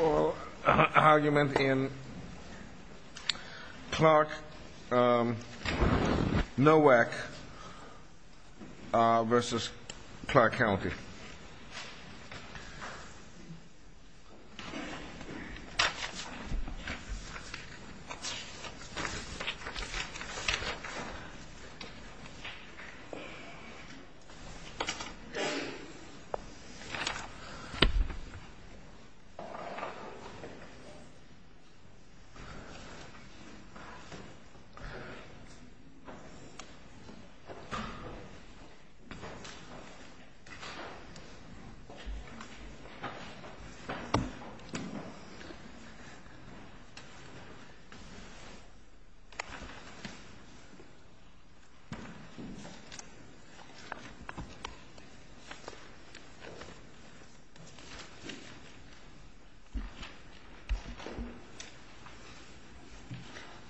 Oral argument in Clark-Nowak v. Clark County. Oral argument in Clark-Nowak v. Clark County.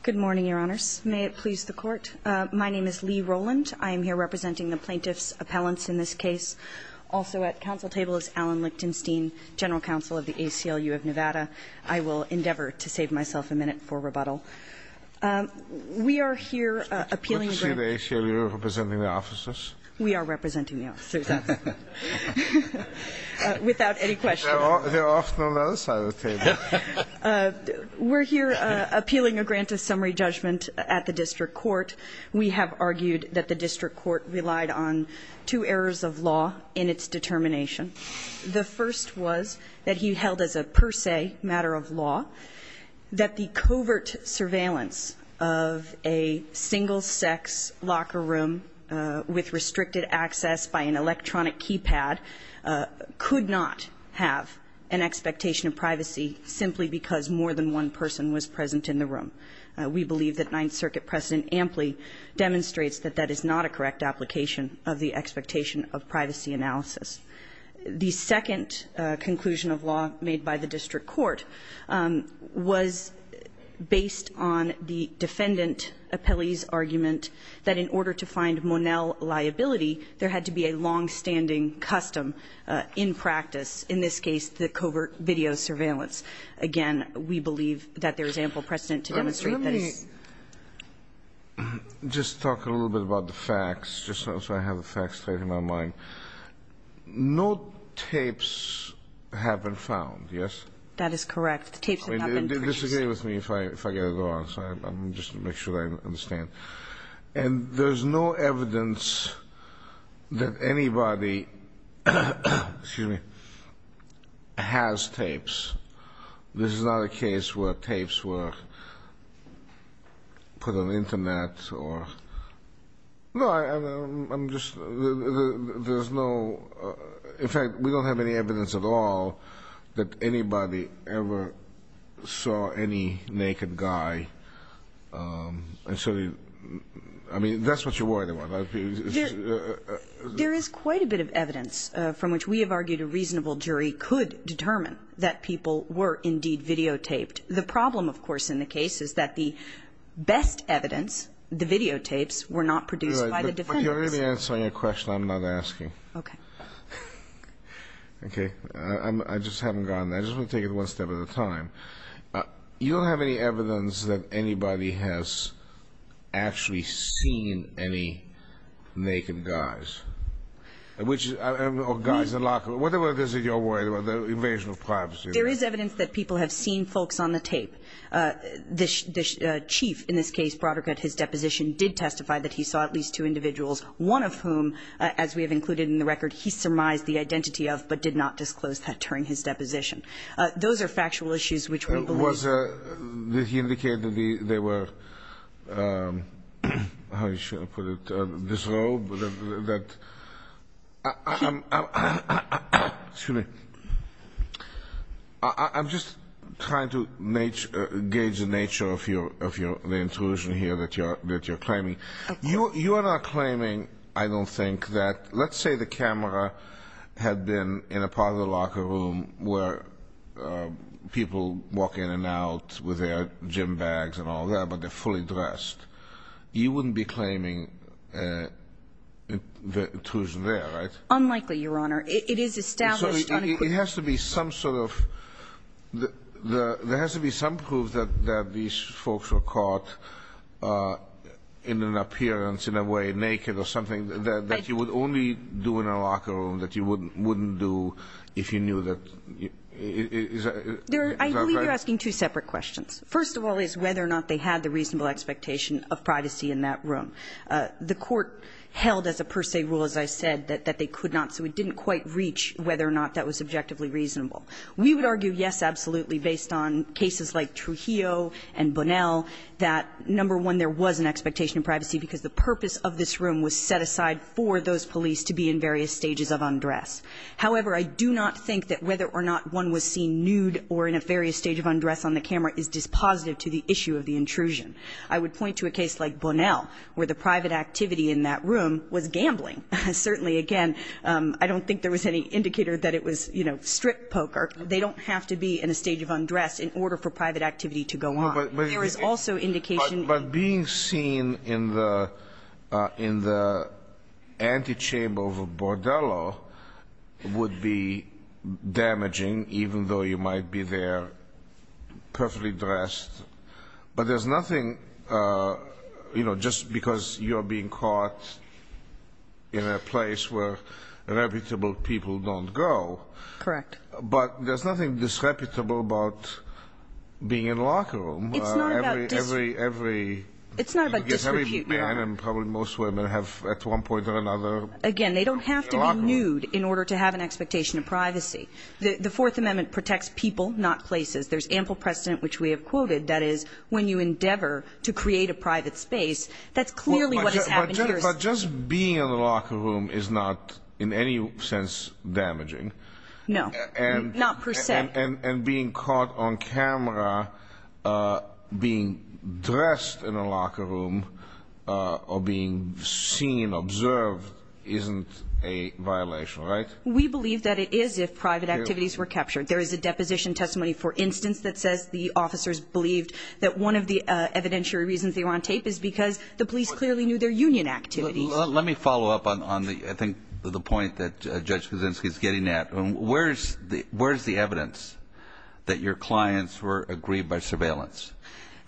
Good morning, Your Honors. May it please the Court. My name is Lee Rowland. I am here representing the plaintiff's appellants in this case. Also at council table is Alan Lichtenstein, General Counsel of the ACLU of Nevada. I will endeavor to save myself a minute for rebuttal. We are here appealing the grant. It's good to see the ACLU representing the officers. We are representing the officers, without any question. We're here appealing a grant of summary judgment at the district court. We have argued that the district court relied on two areas of law in its determination. The first was that he held as a per se matter of law that the covert surveillance of a single-sex locker room with restricted access by an electronic keypad could not have an expectation of privacy simply because more than one person was present in the room. We believe that Ninth Circuit precedent amply demonstrates that that is not a correct application of the expectation of privacy analysis. The second conclusion of law made by the district court was based on the defendant appellee's argument that in order to find Monell liability, there had to be a longstanding custom in practice, in this case, the covert video surveillance. Again, we believe that there is ample precedent to demonstrate this. Let me just talk a little bit about the facts, just so I have the facts straight in my mind. No tapes have been found, yes? That is correct. The tapes have not been traced. Disagree with me if I get it wrong, so I'm just going to make sure I understand. And there's no evidence that anybody has tapes. This is not a case where tapes were put on the Internet or no, I'm just, there's no, in fact, we don't have any evidence at all that anybody ever saw any naked guy. I mean, that's what you're worried about. There is quite a bit of evidence from which we have argued a reasonable jury could determine that people were indeed videotaped. The problem, of course, in the case is that the best evidence, the videotapes, were not produced by the defendants. You're already answering a question I'm not asking. Okay. Okay. I just haven't gotten there. I just want to take it one step at a time. You don't have any evidence that anybody has actually seen any naked guys, which, or guys in lockers, whatever it is that you're worried about, the invasion of privacy. There is evidence that people have seen folks on the tape. The chief in this case, Broderick at his deposition, did testify that he saw at least two individuals, one of whom, as we have included in the record, he surmised the identity of, but did not disclose that during his deposition. Those are factual issues which we believe. Was he indicating they were, how shall I put it, disrobed? I'm just trying to gauge the nature of the intrusion here that you're claiming. You are not claiming, I don't think, that let's say the camera had been in a part of the locker room where people walk in and out with their gym bags and all that, but they're fully dressed. You wouldn't be claiming the intrusion there, right? Unlikely, Your Honor. It is established on a quid pro quo. It has to be some sort of, there has to be some proof that these folks were caught in an appearance, in a way, naked or something, that you would only do in a locker room, that you wouldn't do if you knew that. Is that right? I believe you're asking two separate questions. First of all is whether or not they had the reasonable expectation of privacy in that room. The court held as a per se rule, as I said, that they could not, so it didn't quite reach whether or not that was subjectively reasonable. We would argue yes, absolutely, based on cases like Trujillo and Bonnell, that number one, there was an expectation of privacy because the purpose of this room was set aside for those police to be in various stages of undress. However, I do not think that whether or not one was seen nude or in a various stage of undress on the camera is dispositive to the issue of the intrusion. I would point to a case like Bonnell where the private activity in that room was gambling. Certainly, again, I don't think there was any indicator that it was, you know, strip poker. They don't have to be in a stage of undress in order for private activity to go on. There is also indication. But being seen in the antechamber of a bordello would be damaging, even though you might be there perfectly dressed. But there's nothing, you know, just because you're being caught in a place where reputable people don't go. Correct. But there's nothing disreputable about being in a locker room. It's not about disrepute. Every man and probably most women have at one point or another a locker room. Again, they don't have to be nude in order to have an expectation of privacy. The Fourth Amendment protects people, not places. There's ample precedent, which we have quoted, that is when you endeavor to create a private space, that's clearly what has happened here. But just being in a locker room is not in any sense damaging. No, not per se. And being caught on camera being dressed in a locker room or being seen, observed, isn't a violation, right? We believe that it is if private activities were captured. There is a deposition testimony, for instance, that says the officers believed that one of the evidentiary reasons they were on tape is because the police clearly knew their union activities. Let me follow up on the point that Judge Kuczynski is getting at. Where is the evidence that your clients were aggrieved by surveillance?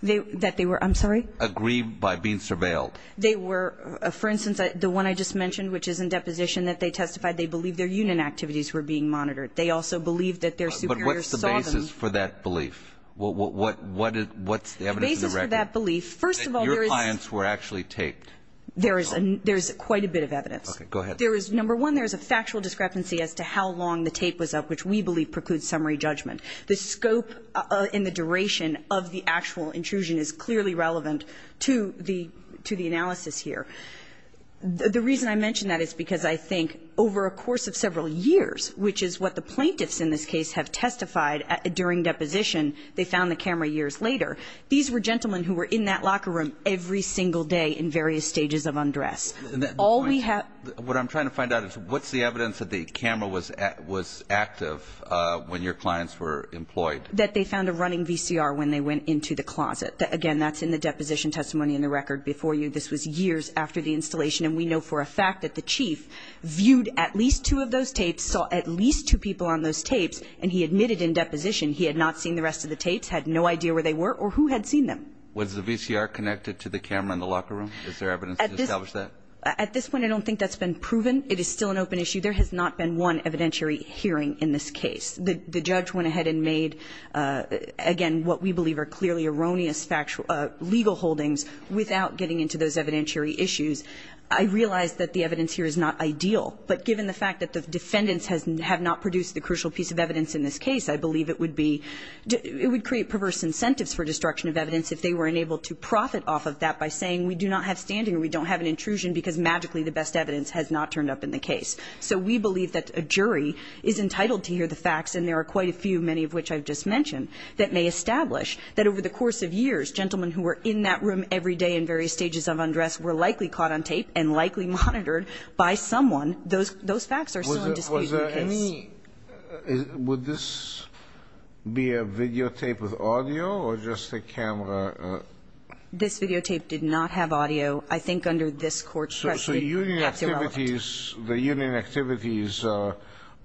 That they were, I'm sorry? Aggrieved by being surveilled. They were, for instance, the one I just mentioned, which is in deposition, that they testified they believed their union activities were being monitored. They also believed that their superiors saw them. But what's the basis for that belief? What's the evidence in the record? The basis for that belief, first of all, there is. That your clients were actually taped. There is quite a bit of evidence. Okay, go ahead. Number one, there is a factual discrepancy as to how long the tape was up, which we believe precludes summary judgment. The scope and the duration of the actual intrusion is clearly relevant to the analysis here. The reason I mention that is because I think over a course of several years, which is what the plaintiffs in this case have testified during deposition, they found the camera years later. These were gentlemen who were in that locker room every single day in various stages of undress. What I'm trying to find out is what's the evidence that the camera was active when your clients were employed? That they found a running VCR when they went into the closet. Again, that's in the deposition testimony in the record before you. This was years after the installation. And we know for a fact that the chief viewed at least two of those tapes, saw at least two people on those tapes, and he admitted in deposition he had not seen the rest of the tapes, had no idea where they were or who had seen them. Was the VCR connected to the camera in the locker room? Is there evidence to establish that? At this point, I don't think that's been proven. It is still an open issue. There has not been one evidentiary hearing in this case. The judge went ahead and made, again, what we believe are clearly erroneous legal holdings without getting into those evidentiary issues. I realize that the evidence here is not ideal, but given the fact that the defendants have not produced the crucial piece of evidence in this case, I believe it would be it would create perverse incentives for destruction of evidence if they were unable to profit off of that by saying we do not have standing or we don't have an intrusion because magically the best evidence has not turned up in the case. So we believe that a jury is entitled to hear the facts, and there are quite a few, many of which I've just mentioned, that may establish that over the course of years the first gentlemen who were in that room every day in various stages of undress were likely caught on tape and likely monitored by someone. Those facts are still in dispute in the case. Was there any ñ would this be a videotape with audio or just a camera? This videotape did not have audio. I think under this court precedent, it's irrelevant. So union activities, the union activities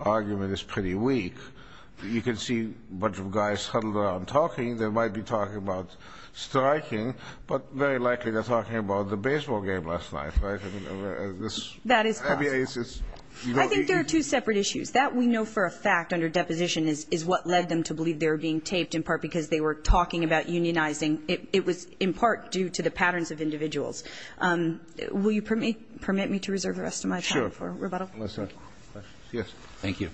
argument is pretty weak. You can see a bunch of guys huddled around talking. They might be talking about striking, but very likely they're talking about the baseball game last night, right? I mean, this ñ That is possible. I mean, it's ñ I think there are two separate issues. That we know for a fact under deposition is what led them to believe they were being taped in part because they were talking about unionizing. It was in part due to the patterns of individuals. Will you permit me to reserve the rest of my time for rebuttal? Sure. Yes. Thank you.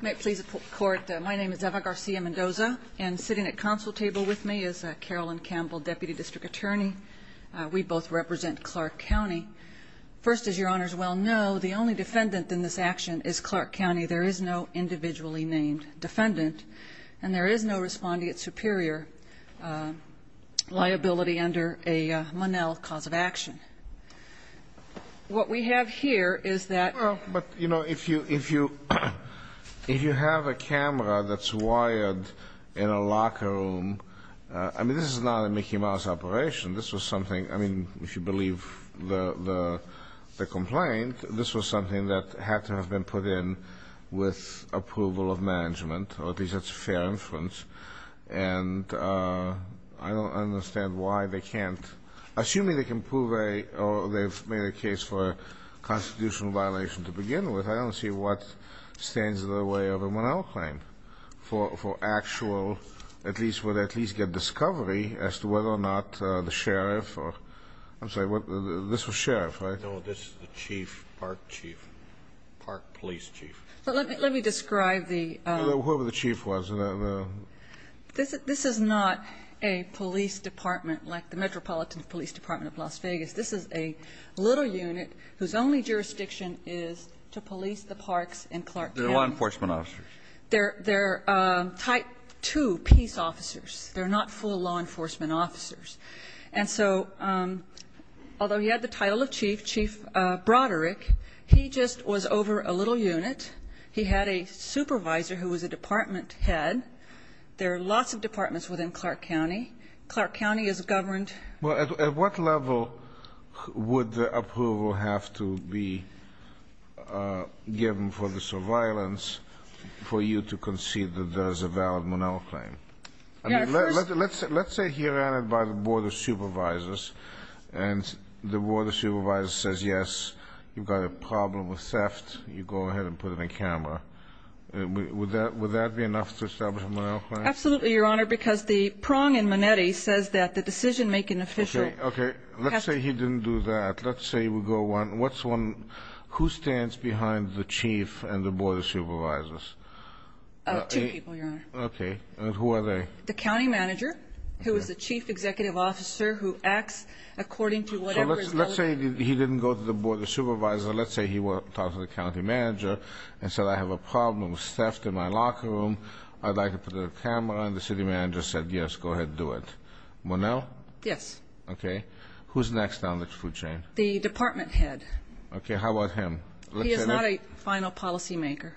You may please report. My name is Eva Garcia Mendoza, and sitting at counsel table with me is Carolyn Campbell, Deputy District Attorney. We both represent Clark County. First, as your honors well know, the only defendant in this action is Clark County. There is no individually named defendant. And there is no respondee at superior liability under a Monell cause of action. What we have here is that ñ Well, but, you know, if you ñ if you have a camera that's wired in a locker room ñ I mean, this is not a Mickey Mouse operation. This was something ñ I mean, if you believe the complaint, this was something that had to have been put in with approval of management, or at least that's a fair inference. And I don't understand why they can't ñ assuming they can prove a ñ or they've made a case for a constitutional violation to begin with, I don't see what stands in the way of a Monell claim for actual ñ at least where they at least get discovery as to whether or not the sheriff or ñ I'm sorry, this was sheriff, right? No, this is the chief, park chief, park police chief. But let me ñ let me describe the ñ Whoever the chief was, the ñ This is not a police department like the Metropolitan Police Department of Las Vegas. This is a little unit whose only jurisdiction is to police the parks in Clark County. They're law enforcement officers. They're ñ they're type 2 peace officers. They're not full law enforcement officers. And so although he had the title of chief, chief Broderick, he just was over a little unit. He had a supervisor who was a department head. There are lots of departments within Clark County. Clark County is governed ñ Well, at what level would the approval have to be given for the surveillance for you to concede that there's a valid Monell claim? I mean, let's ñ Let's say you go to the board of supervisors and the board of supervisors says, yes, you've got a problem with theft. You go ahead and put it in camera. Would that ñ would that be enough to establish a Monell claim? Absolutely, Your Honor, because the prong in Monetti says that the decision-making official ñ Okay. Okay. Let's say he didn't do that. Let's say we go one. What's one ñ who stands behind the chief and the board of supervisors? Two people, Your Honor. Okay. And who are they? The county manager, who is the chief executive officer who acts according to whatever is ñ So let's say he didn't go to the board of supervisors. Let's say he talked to the county manager and said, I have a problem with theft in my locker room. I'd like to put it in camera. And the city manager said, yes, go ahead and do it. Monell? Yes. Okay. Who's next on the food chain? The department head. Okay. How about him? He is not a final policymaker.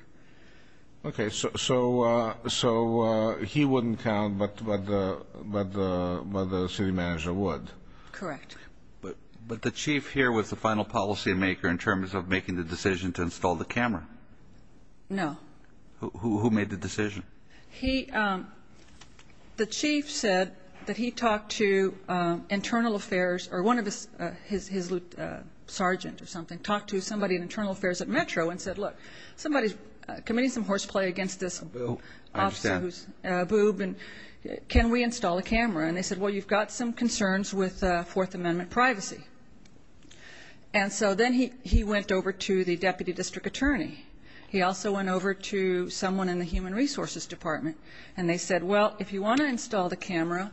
Okay. So he wouldn't count, but the city manager would. Correct. But the chief here was the final policymaker in terms of making the decision to install the camera. No. Who made the decision? He ñ the chief said that he talked to internal affairs or one of his ñ his sergeant or something who's a boob and can we install a camera? And they said, well, you've got some concerns with Fourth Amendment privacy. And so then he went over to the deputy district attorney. He also went over to someone in the human resources department. And they said, well, if you want to install the camera,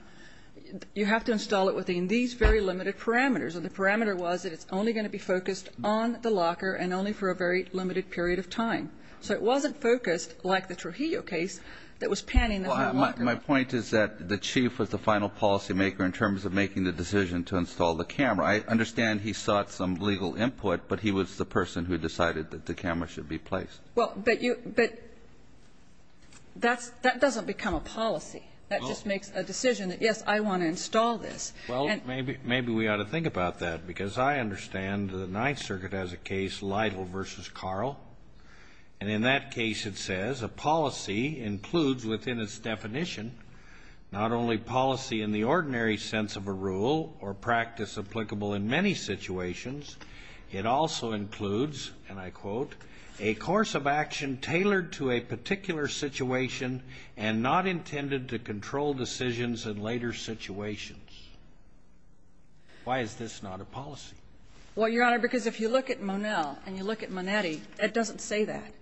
you have to install it within these very limited parameters. And the parameter was that it's only going to be focused on the locker and only for a very limited period of time. So it wasn't focused like the Trujillo case that was panning the whole locker. Well, my point is that the chief was the final policymaker in terms of making the decision to install the camera. I understand he sought some legal input, but he was the person who decided that the camera should be placed. Well, but you ñ but that doesn't become a policy. That just makes a decision that, yes, I want to install this. Well, maybe we ought to think about that because I understand the Ninth Circuit has a case, Lytle v. Carl. And in that case it says a policy includes within its definition not only policy in the ordinary sense of a rule or practice applicable in many situations. It also includes, and I quote, a course of action tailored to a particular situation and not intended to control decisions in later situations. Why is this not a policy? Well, Your Honor, because if you look at Monell and you look at Manetti, it doesn't say that.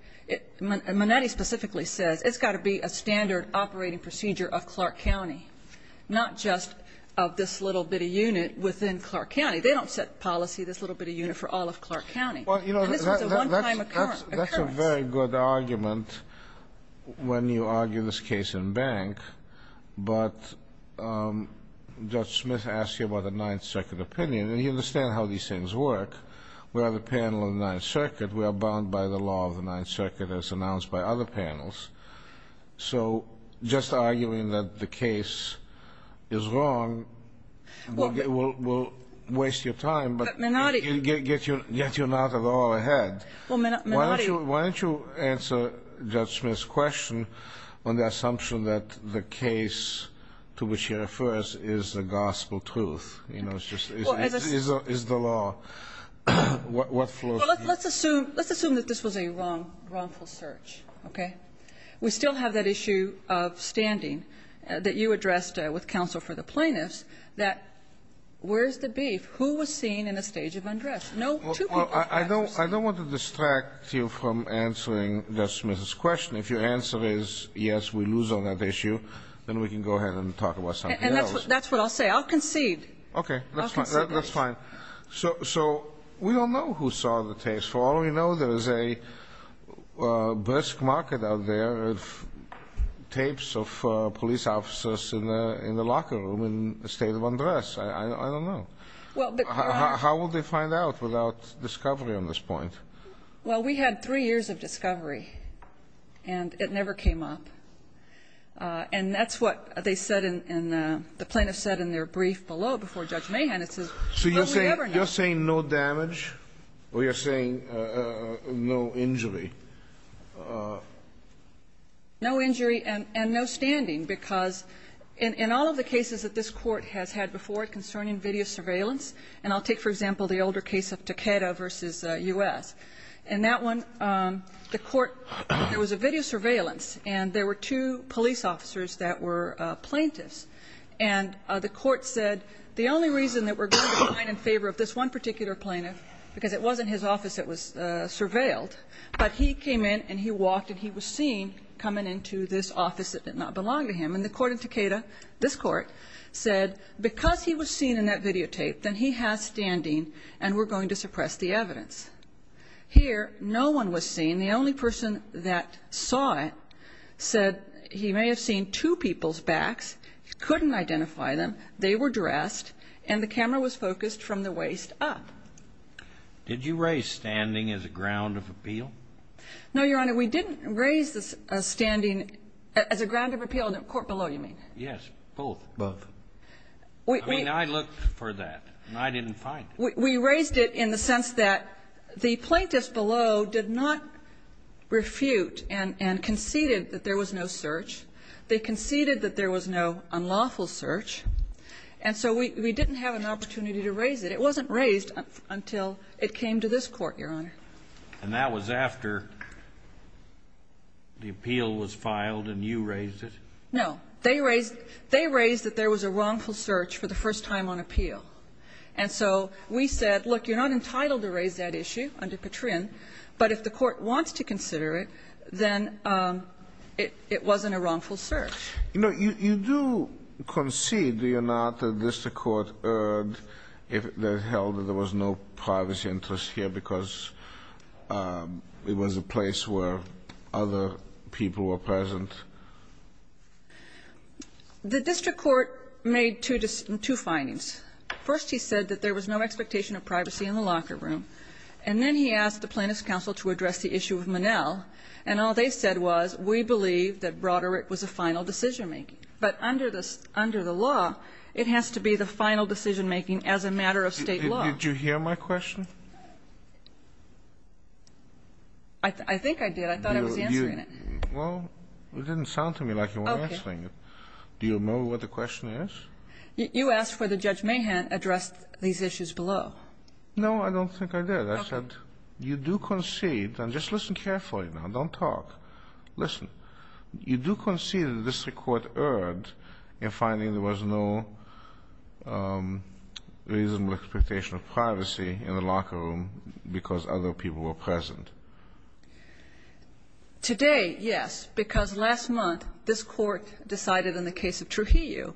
Manetti specifically says it's got to be a standard operating procedure of Clark County, not just of this little bitty unit within Clark County. They don't set policy, this little bitty unit, for all of Clark County. And this was a one-time occurrence. That's a very good argument when you argue this case in Bank. But Judge Smith asked you about the Ninth Circuit opinion. And you understand how these things work. We are the panel of the Ninth Circuit. We are bound by the law of the Ninth Circuit as announced by other panels. So just arguing that the case is wrong will waste your time, but yet you're not at all ahead. Why don't you answer Judge Smith's question on the assumption that the case to which she refers is the gospel truth, you know, is the law? Well, let's assume that this was a wrongful search, okay? We still have that issue of standing that you addressed with counsel for the plaintiffs that where's the beef? Who was seen in the stage of undress? Well, I don't want to distract you from answering Judge Smith's question. If your answer is yes, we lose on that issue, then we can go ahead and talk about something else. And that's what I'll say. I'll concede. Okay. That's fine. So we don't know who saw the tapes. For all we know, there is a Bursk Market out there with tapes of police officers in the locker room in the state of undress. I don't know. How will they find out without discovery on this point? Well, we had three years of discovery, and it never came up. And that's what they said and the plaintiffs said in their brief below before Judge Mahan. It says, So you're saying no damage or you're saying no injury? No injury and no standing because in all of the cases that this court has had before concerning video surveillance, and I'll take, for example, the older case of Takeda versus U.S. In that one, the court, there was a video surveillance, and there were two police officers that were plaintiffs. And the court said the only reason that we're going to be in favor of this one particular plaintiff, because it wasn't his office that was surveilled, but he came in and he walked and he was seen coming into this office that did not belong to him. And the court in Takeda, this court, said because he was seen in that videotape, then he has standing and we're going to suppress the evidence. Here, no one was seen. The only person that saw it said he may have seen two people's backs, couldn't identify them, they were dressed, and the camera was focused from the waist up. Did you raise standing as a ground of appeal? No, Your Honor. And we didn't raise the standing as a ground of appeal in the court below, you mean? Yes, both. Both. I mean, I looked for that, and I didn't find it. We raised it in the sense that the plaintiffs below did not refute and conceded that there was no search. They conceded that there was no unlawful search. And so we didn't have an opportunity to raise it. It wasn't raised until it came to this Court, Your Honor. And that was after the appeal was filed and you raised it? No. They raised that there was a wrongful search for the first time on appeal. And so we said, look, you're not entitled to raise that issue under Patrin, but if the Court wants to consider it, then it wasn't a wrongful search. You know, you do concede, do you not, that this Court heard that it held that there was no privacy interest here because it was a place where other people were present? The district court made two findings. First, he said that there was no expectation of privacy in the locker room. And then he asked the Plaintiffs' Counsel to address the issue of Monell. And all they said was, we believe that Broderick was a final decision-making. But under the law, it has to be the final decision-making as a matter of State law. Did you hear my question? I think I did. I thought I was answering it. Well, it didn't sound to me like you were answering it. Okay. Do you remember what the question is? You asked whether Judge Mahan addressed these issues below. No, I don't think I did. I said, you do concede, and just listen carefully now. Don't talk. Listen. You do concede that the district court erred in finding there was no reasonable expectation of privacy in the locker room because other people were present. Today, yes, because last month, this Court decided in the case of Trujillo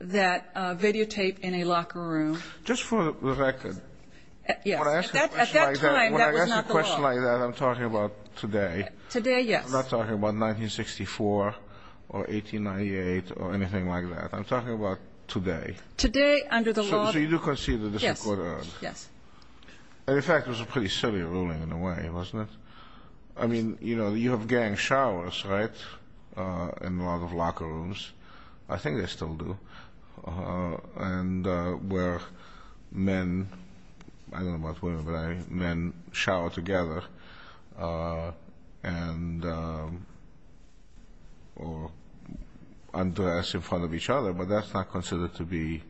that videotape in a locker room. Just for the record. Yes. At that time, that was not the law. When I ask a question like that, I'm talking about today. Today, yes. I'm not talking about 1964 or 1898 or anything like that. I'm talking about today. Today under the law. So you do concede that the district court erred. Yes. And, in fact, it was a pretty silly ruling in a way, wasn't it? I mean, you know, you have gang showers, right, in a lot of locker rooms. I think they still do. And where men, I don't know about women, but men shower together and undress in front of each other. But that's not considered to be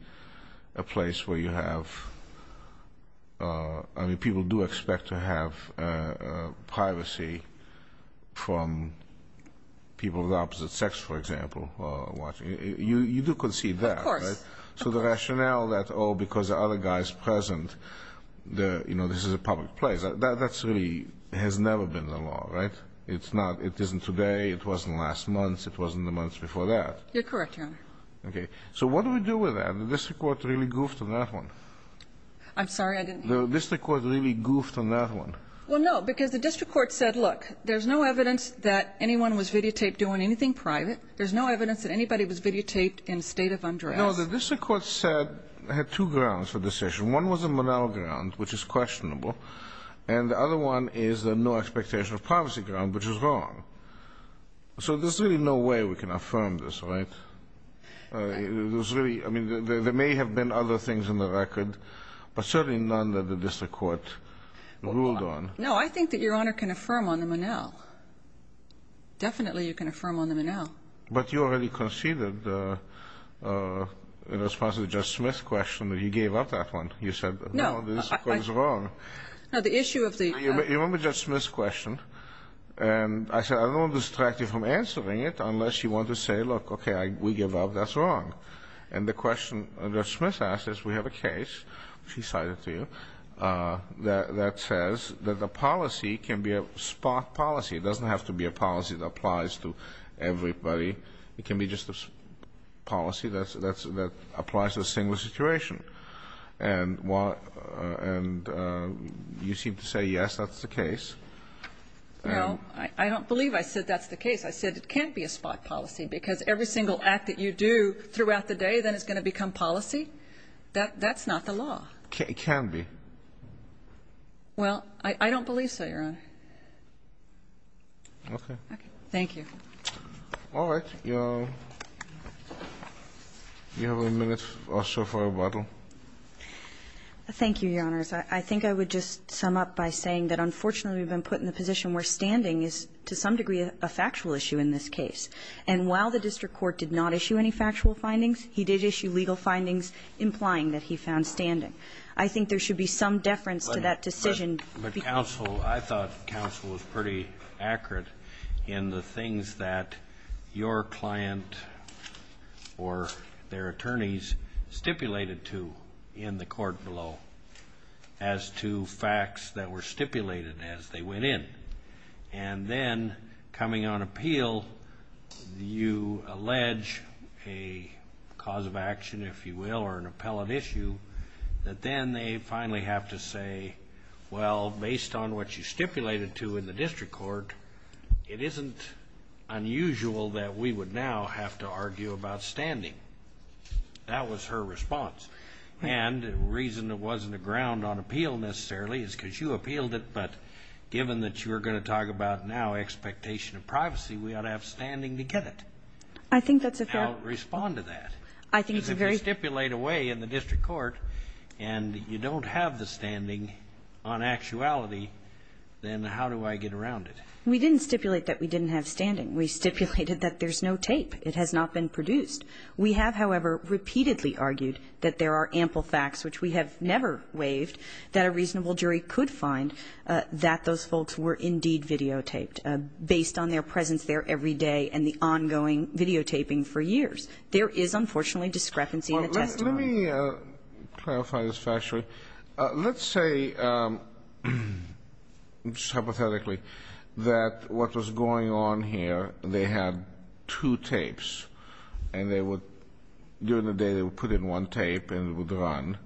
a place where you have, I mean, people do expect to have privacy from people of opposite sex, for example. You do concede that. Of course. So the rationale that, oh, because the other guy is present, you know, this is a public place, that really has never been the law, right? It's not. It isn't today. It wasn't last month. It wasn't the months before that. You're correct, Your Honor. Okay. So what do we do with that? The district court really goofed on that one. I'm sorry? The district court really goofed on that one. Well, no, because the district court said, look, there's no evidence that anyone was videotaped doing anything private. There's no evidence that anybody was videotaped in a state of undress. No, the district court said it had two grounds for the decision. One was a Monell ground, which is questionable, and the other one is the no expectation of privacy ground, which is wrong. So there's really no way we can affirm this, right? I mean, there may have been other things in the record, but certainly none that the district court ruled on. No, I think that Your Honor can affirm on the Monell. Definitely you can affirm on the Monell. But you already conceded in response to the Judge Smith question that you gave up that one. You said, no, the district court is wrong. No, the issue of the ---- You remember Judge Smith's question, and I said I don't want to distract you from answering it unless you want to say, look, okay, we give up, that's wrong. And the question Judge Smith asked is we have a case, she cited to you, that says that the policy can be a spot policy. It doesn't have to be a policy that applies to everybody. It can be just a policy that applies to a single situation. And you seem to say, yes, that's the case. No, I don't believe I said that's the case. I said it can't be a spot policy because every single act that you do throughout the day, then it's going to become policy. That's not the law. It can't be. Well, I don't believe so, Your Honor. Okay. Thank you. All right. You have a minute or so for rebuttal. Thank you, Your Honors. I think I would just sum up by saying that, unfortunately, we've been put in a position where standing is to some degree a factual issue in this case. And while the district court did not issue any factual findings, he did issue legal findings implying that he found standing. I think there should be some deference to that decision. But counsel, I thought counsel was pretty accurate in the things that your client or their attorneys stipulated to in the court below as to facts that were stipulated as they went in. And then coming on appeal, you allege a cause of action, if you will, or an appellate issue, that then they finally have to say, well, based on what you stipulated to in the district court, it isn't unusual that we would now have to argue about standing. That was her response. And the reason it wasn't a ground on appeal necessarily is because you appealed it, but given that you're going to talk about now expectation of privacy, we ought to have standing to get it. I think that's a fair ---- How to respond to that. I think it's a very ---- If you stipulate a way in the district court and you don't have the standing on actuality, then how do I get around it? We didn't stipulate that we didn't have standing. We stipulated that there's no tape. It has not been produced. We have, however, repeatedly argued that there are ample facts, which we have never waived, that a reasonable jury could find that those folks were indeed videotaped based on their presence there every day and the ongoing videotaping for years. There is, unfortunately, discrepancy in the testimony. Well, let me clarify this factually. Let's say, hypothetically, that what was going on here, they had two tapes, and they would, during the day they would put in one tape and it would run,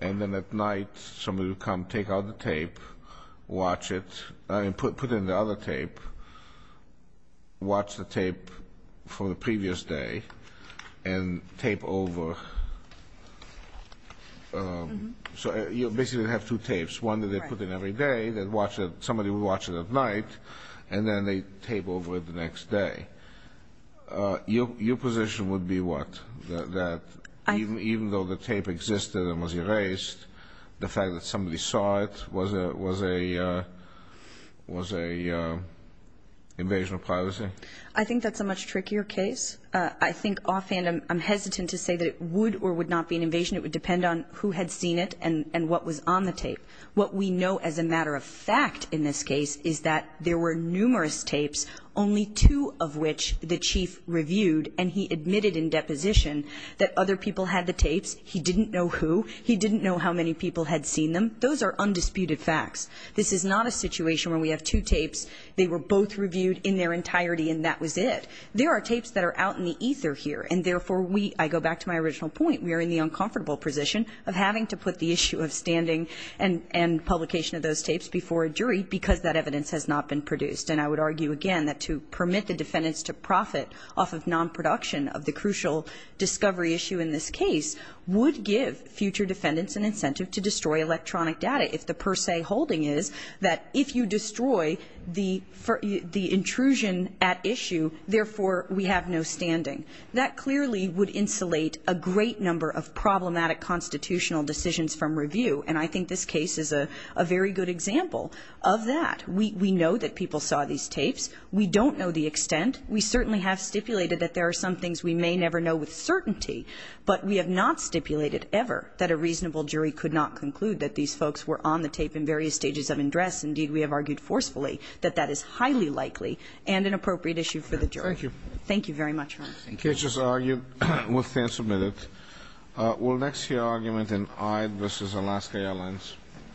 and then at night somebody would come, take out the tape, watch it, put in the other tape, watch the other tape, and tape over. So you basically have two tapes, one that they put in every day, somebody would watch it at night, and then they'd tape over it the next day. Your position would be what, that even though the tape existed and was erased, the fact that somebody saw it was a invasion of privacy? I think that's a much trickier case. First, I think offhand I'm hesitant to say that it would or would not be an invasion. It would depend on who had seen it and what was on the tape. What we know as a matter of fact in this case is that there were numerous tapes, only two of which the chief reviewed, and he admitted in deposition that other people had the tapes. He didn't know who. He didn't know how many people had seen them. Those are undisputed facts. This is not a situation where we have two tapes, they were both reviewed in their entirety, and that was it. There are tapes that are out in the ether here, and therefore we, I go back to my original point, we are in the uncomfortable position of having to put the issue of standing and publication of those tapes before a jury because that evidence has not been produced. And I would argue again that to permit the defendants to profit off of non-production of the crucial discovery issue in this case would give future defendants an incentive to destroy electronic data if the per se holding is that if you destroy the intrusion at issue, therefore we have no standing. That clearly would insulate a great number of problematic constitutional decisions from review, and I think this case is a very good example of that. We know that people saw these tapes. We don't know the extent. We certainly have stipulated that there are some things we may never know with certainty, but we have not stipulated ever that a reasonable jury could not conclude that these folks were on the tape in various stages of undress. Indeed, we have argued forcefully that that is highly likely. And an appropriate issue for the jury. Thank you. Thank you very much, Your Honor. Thank you. The case is argued. We'll stand submitted. We'll next hear argument in Ide v. Alaska Airlines.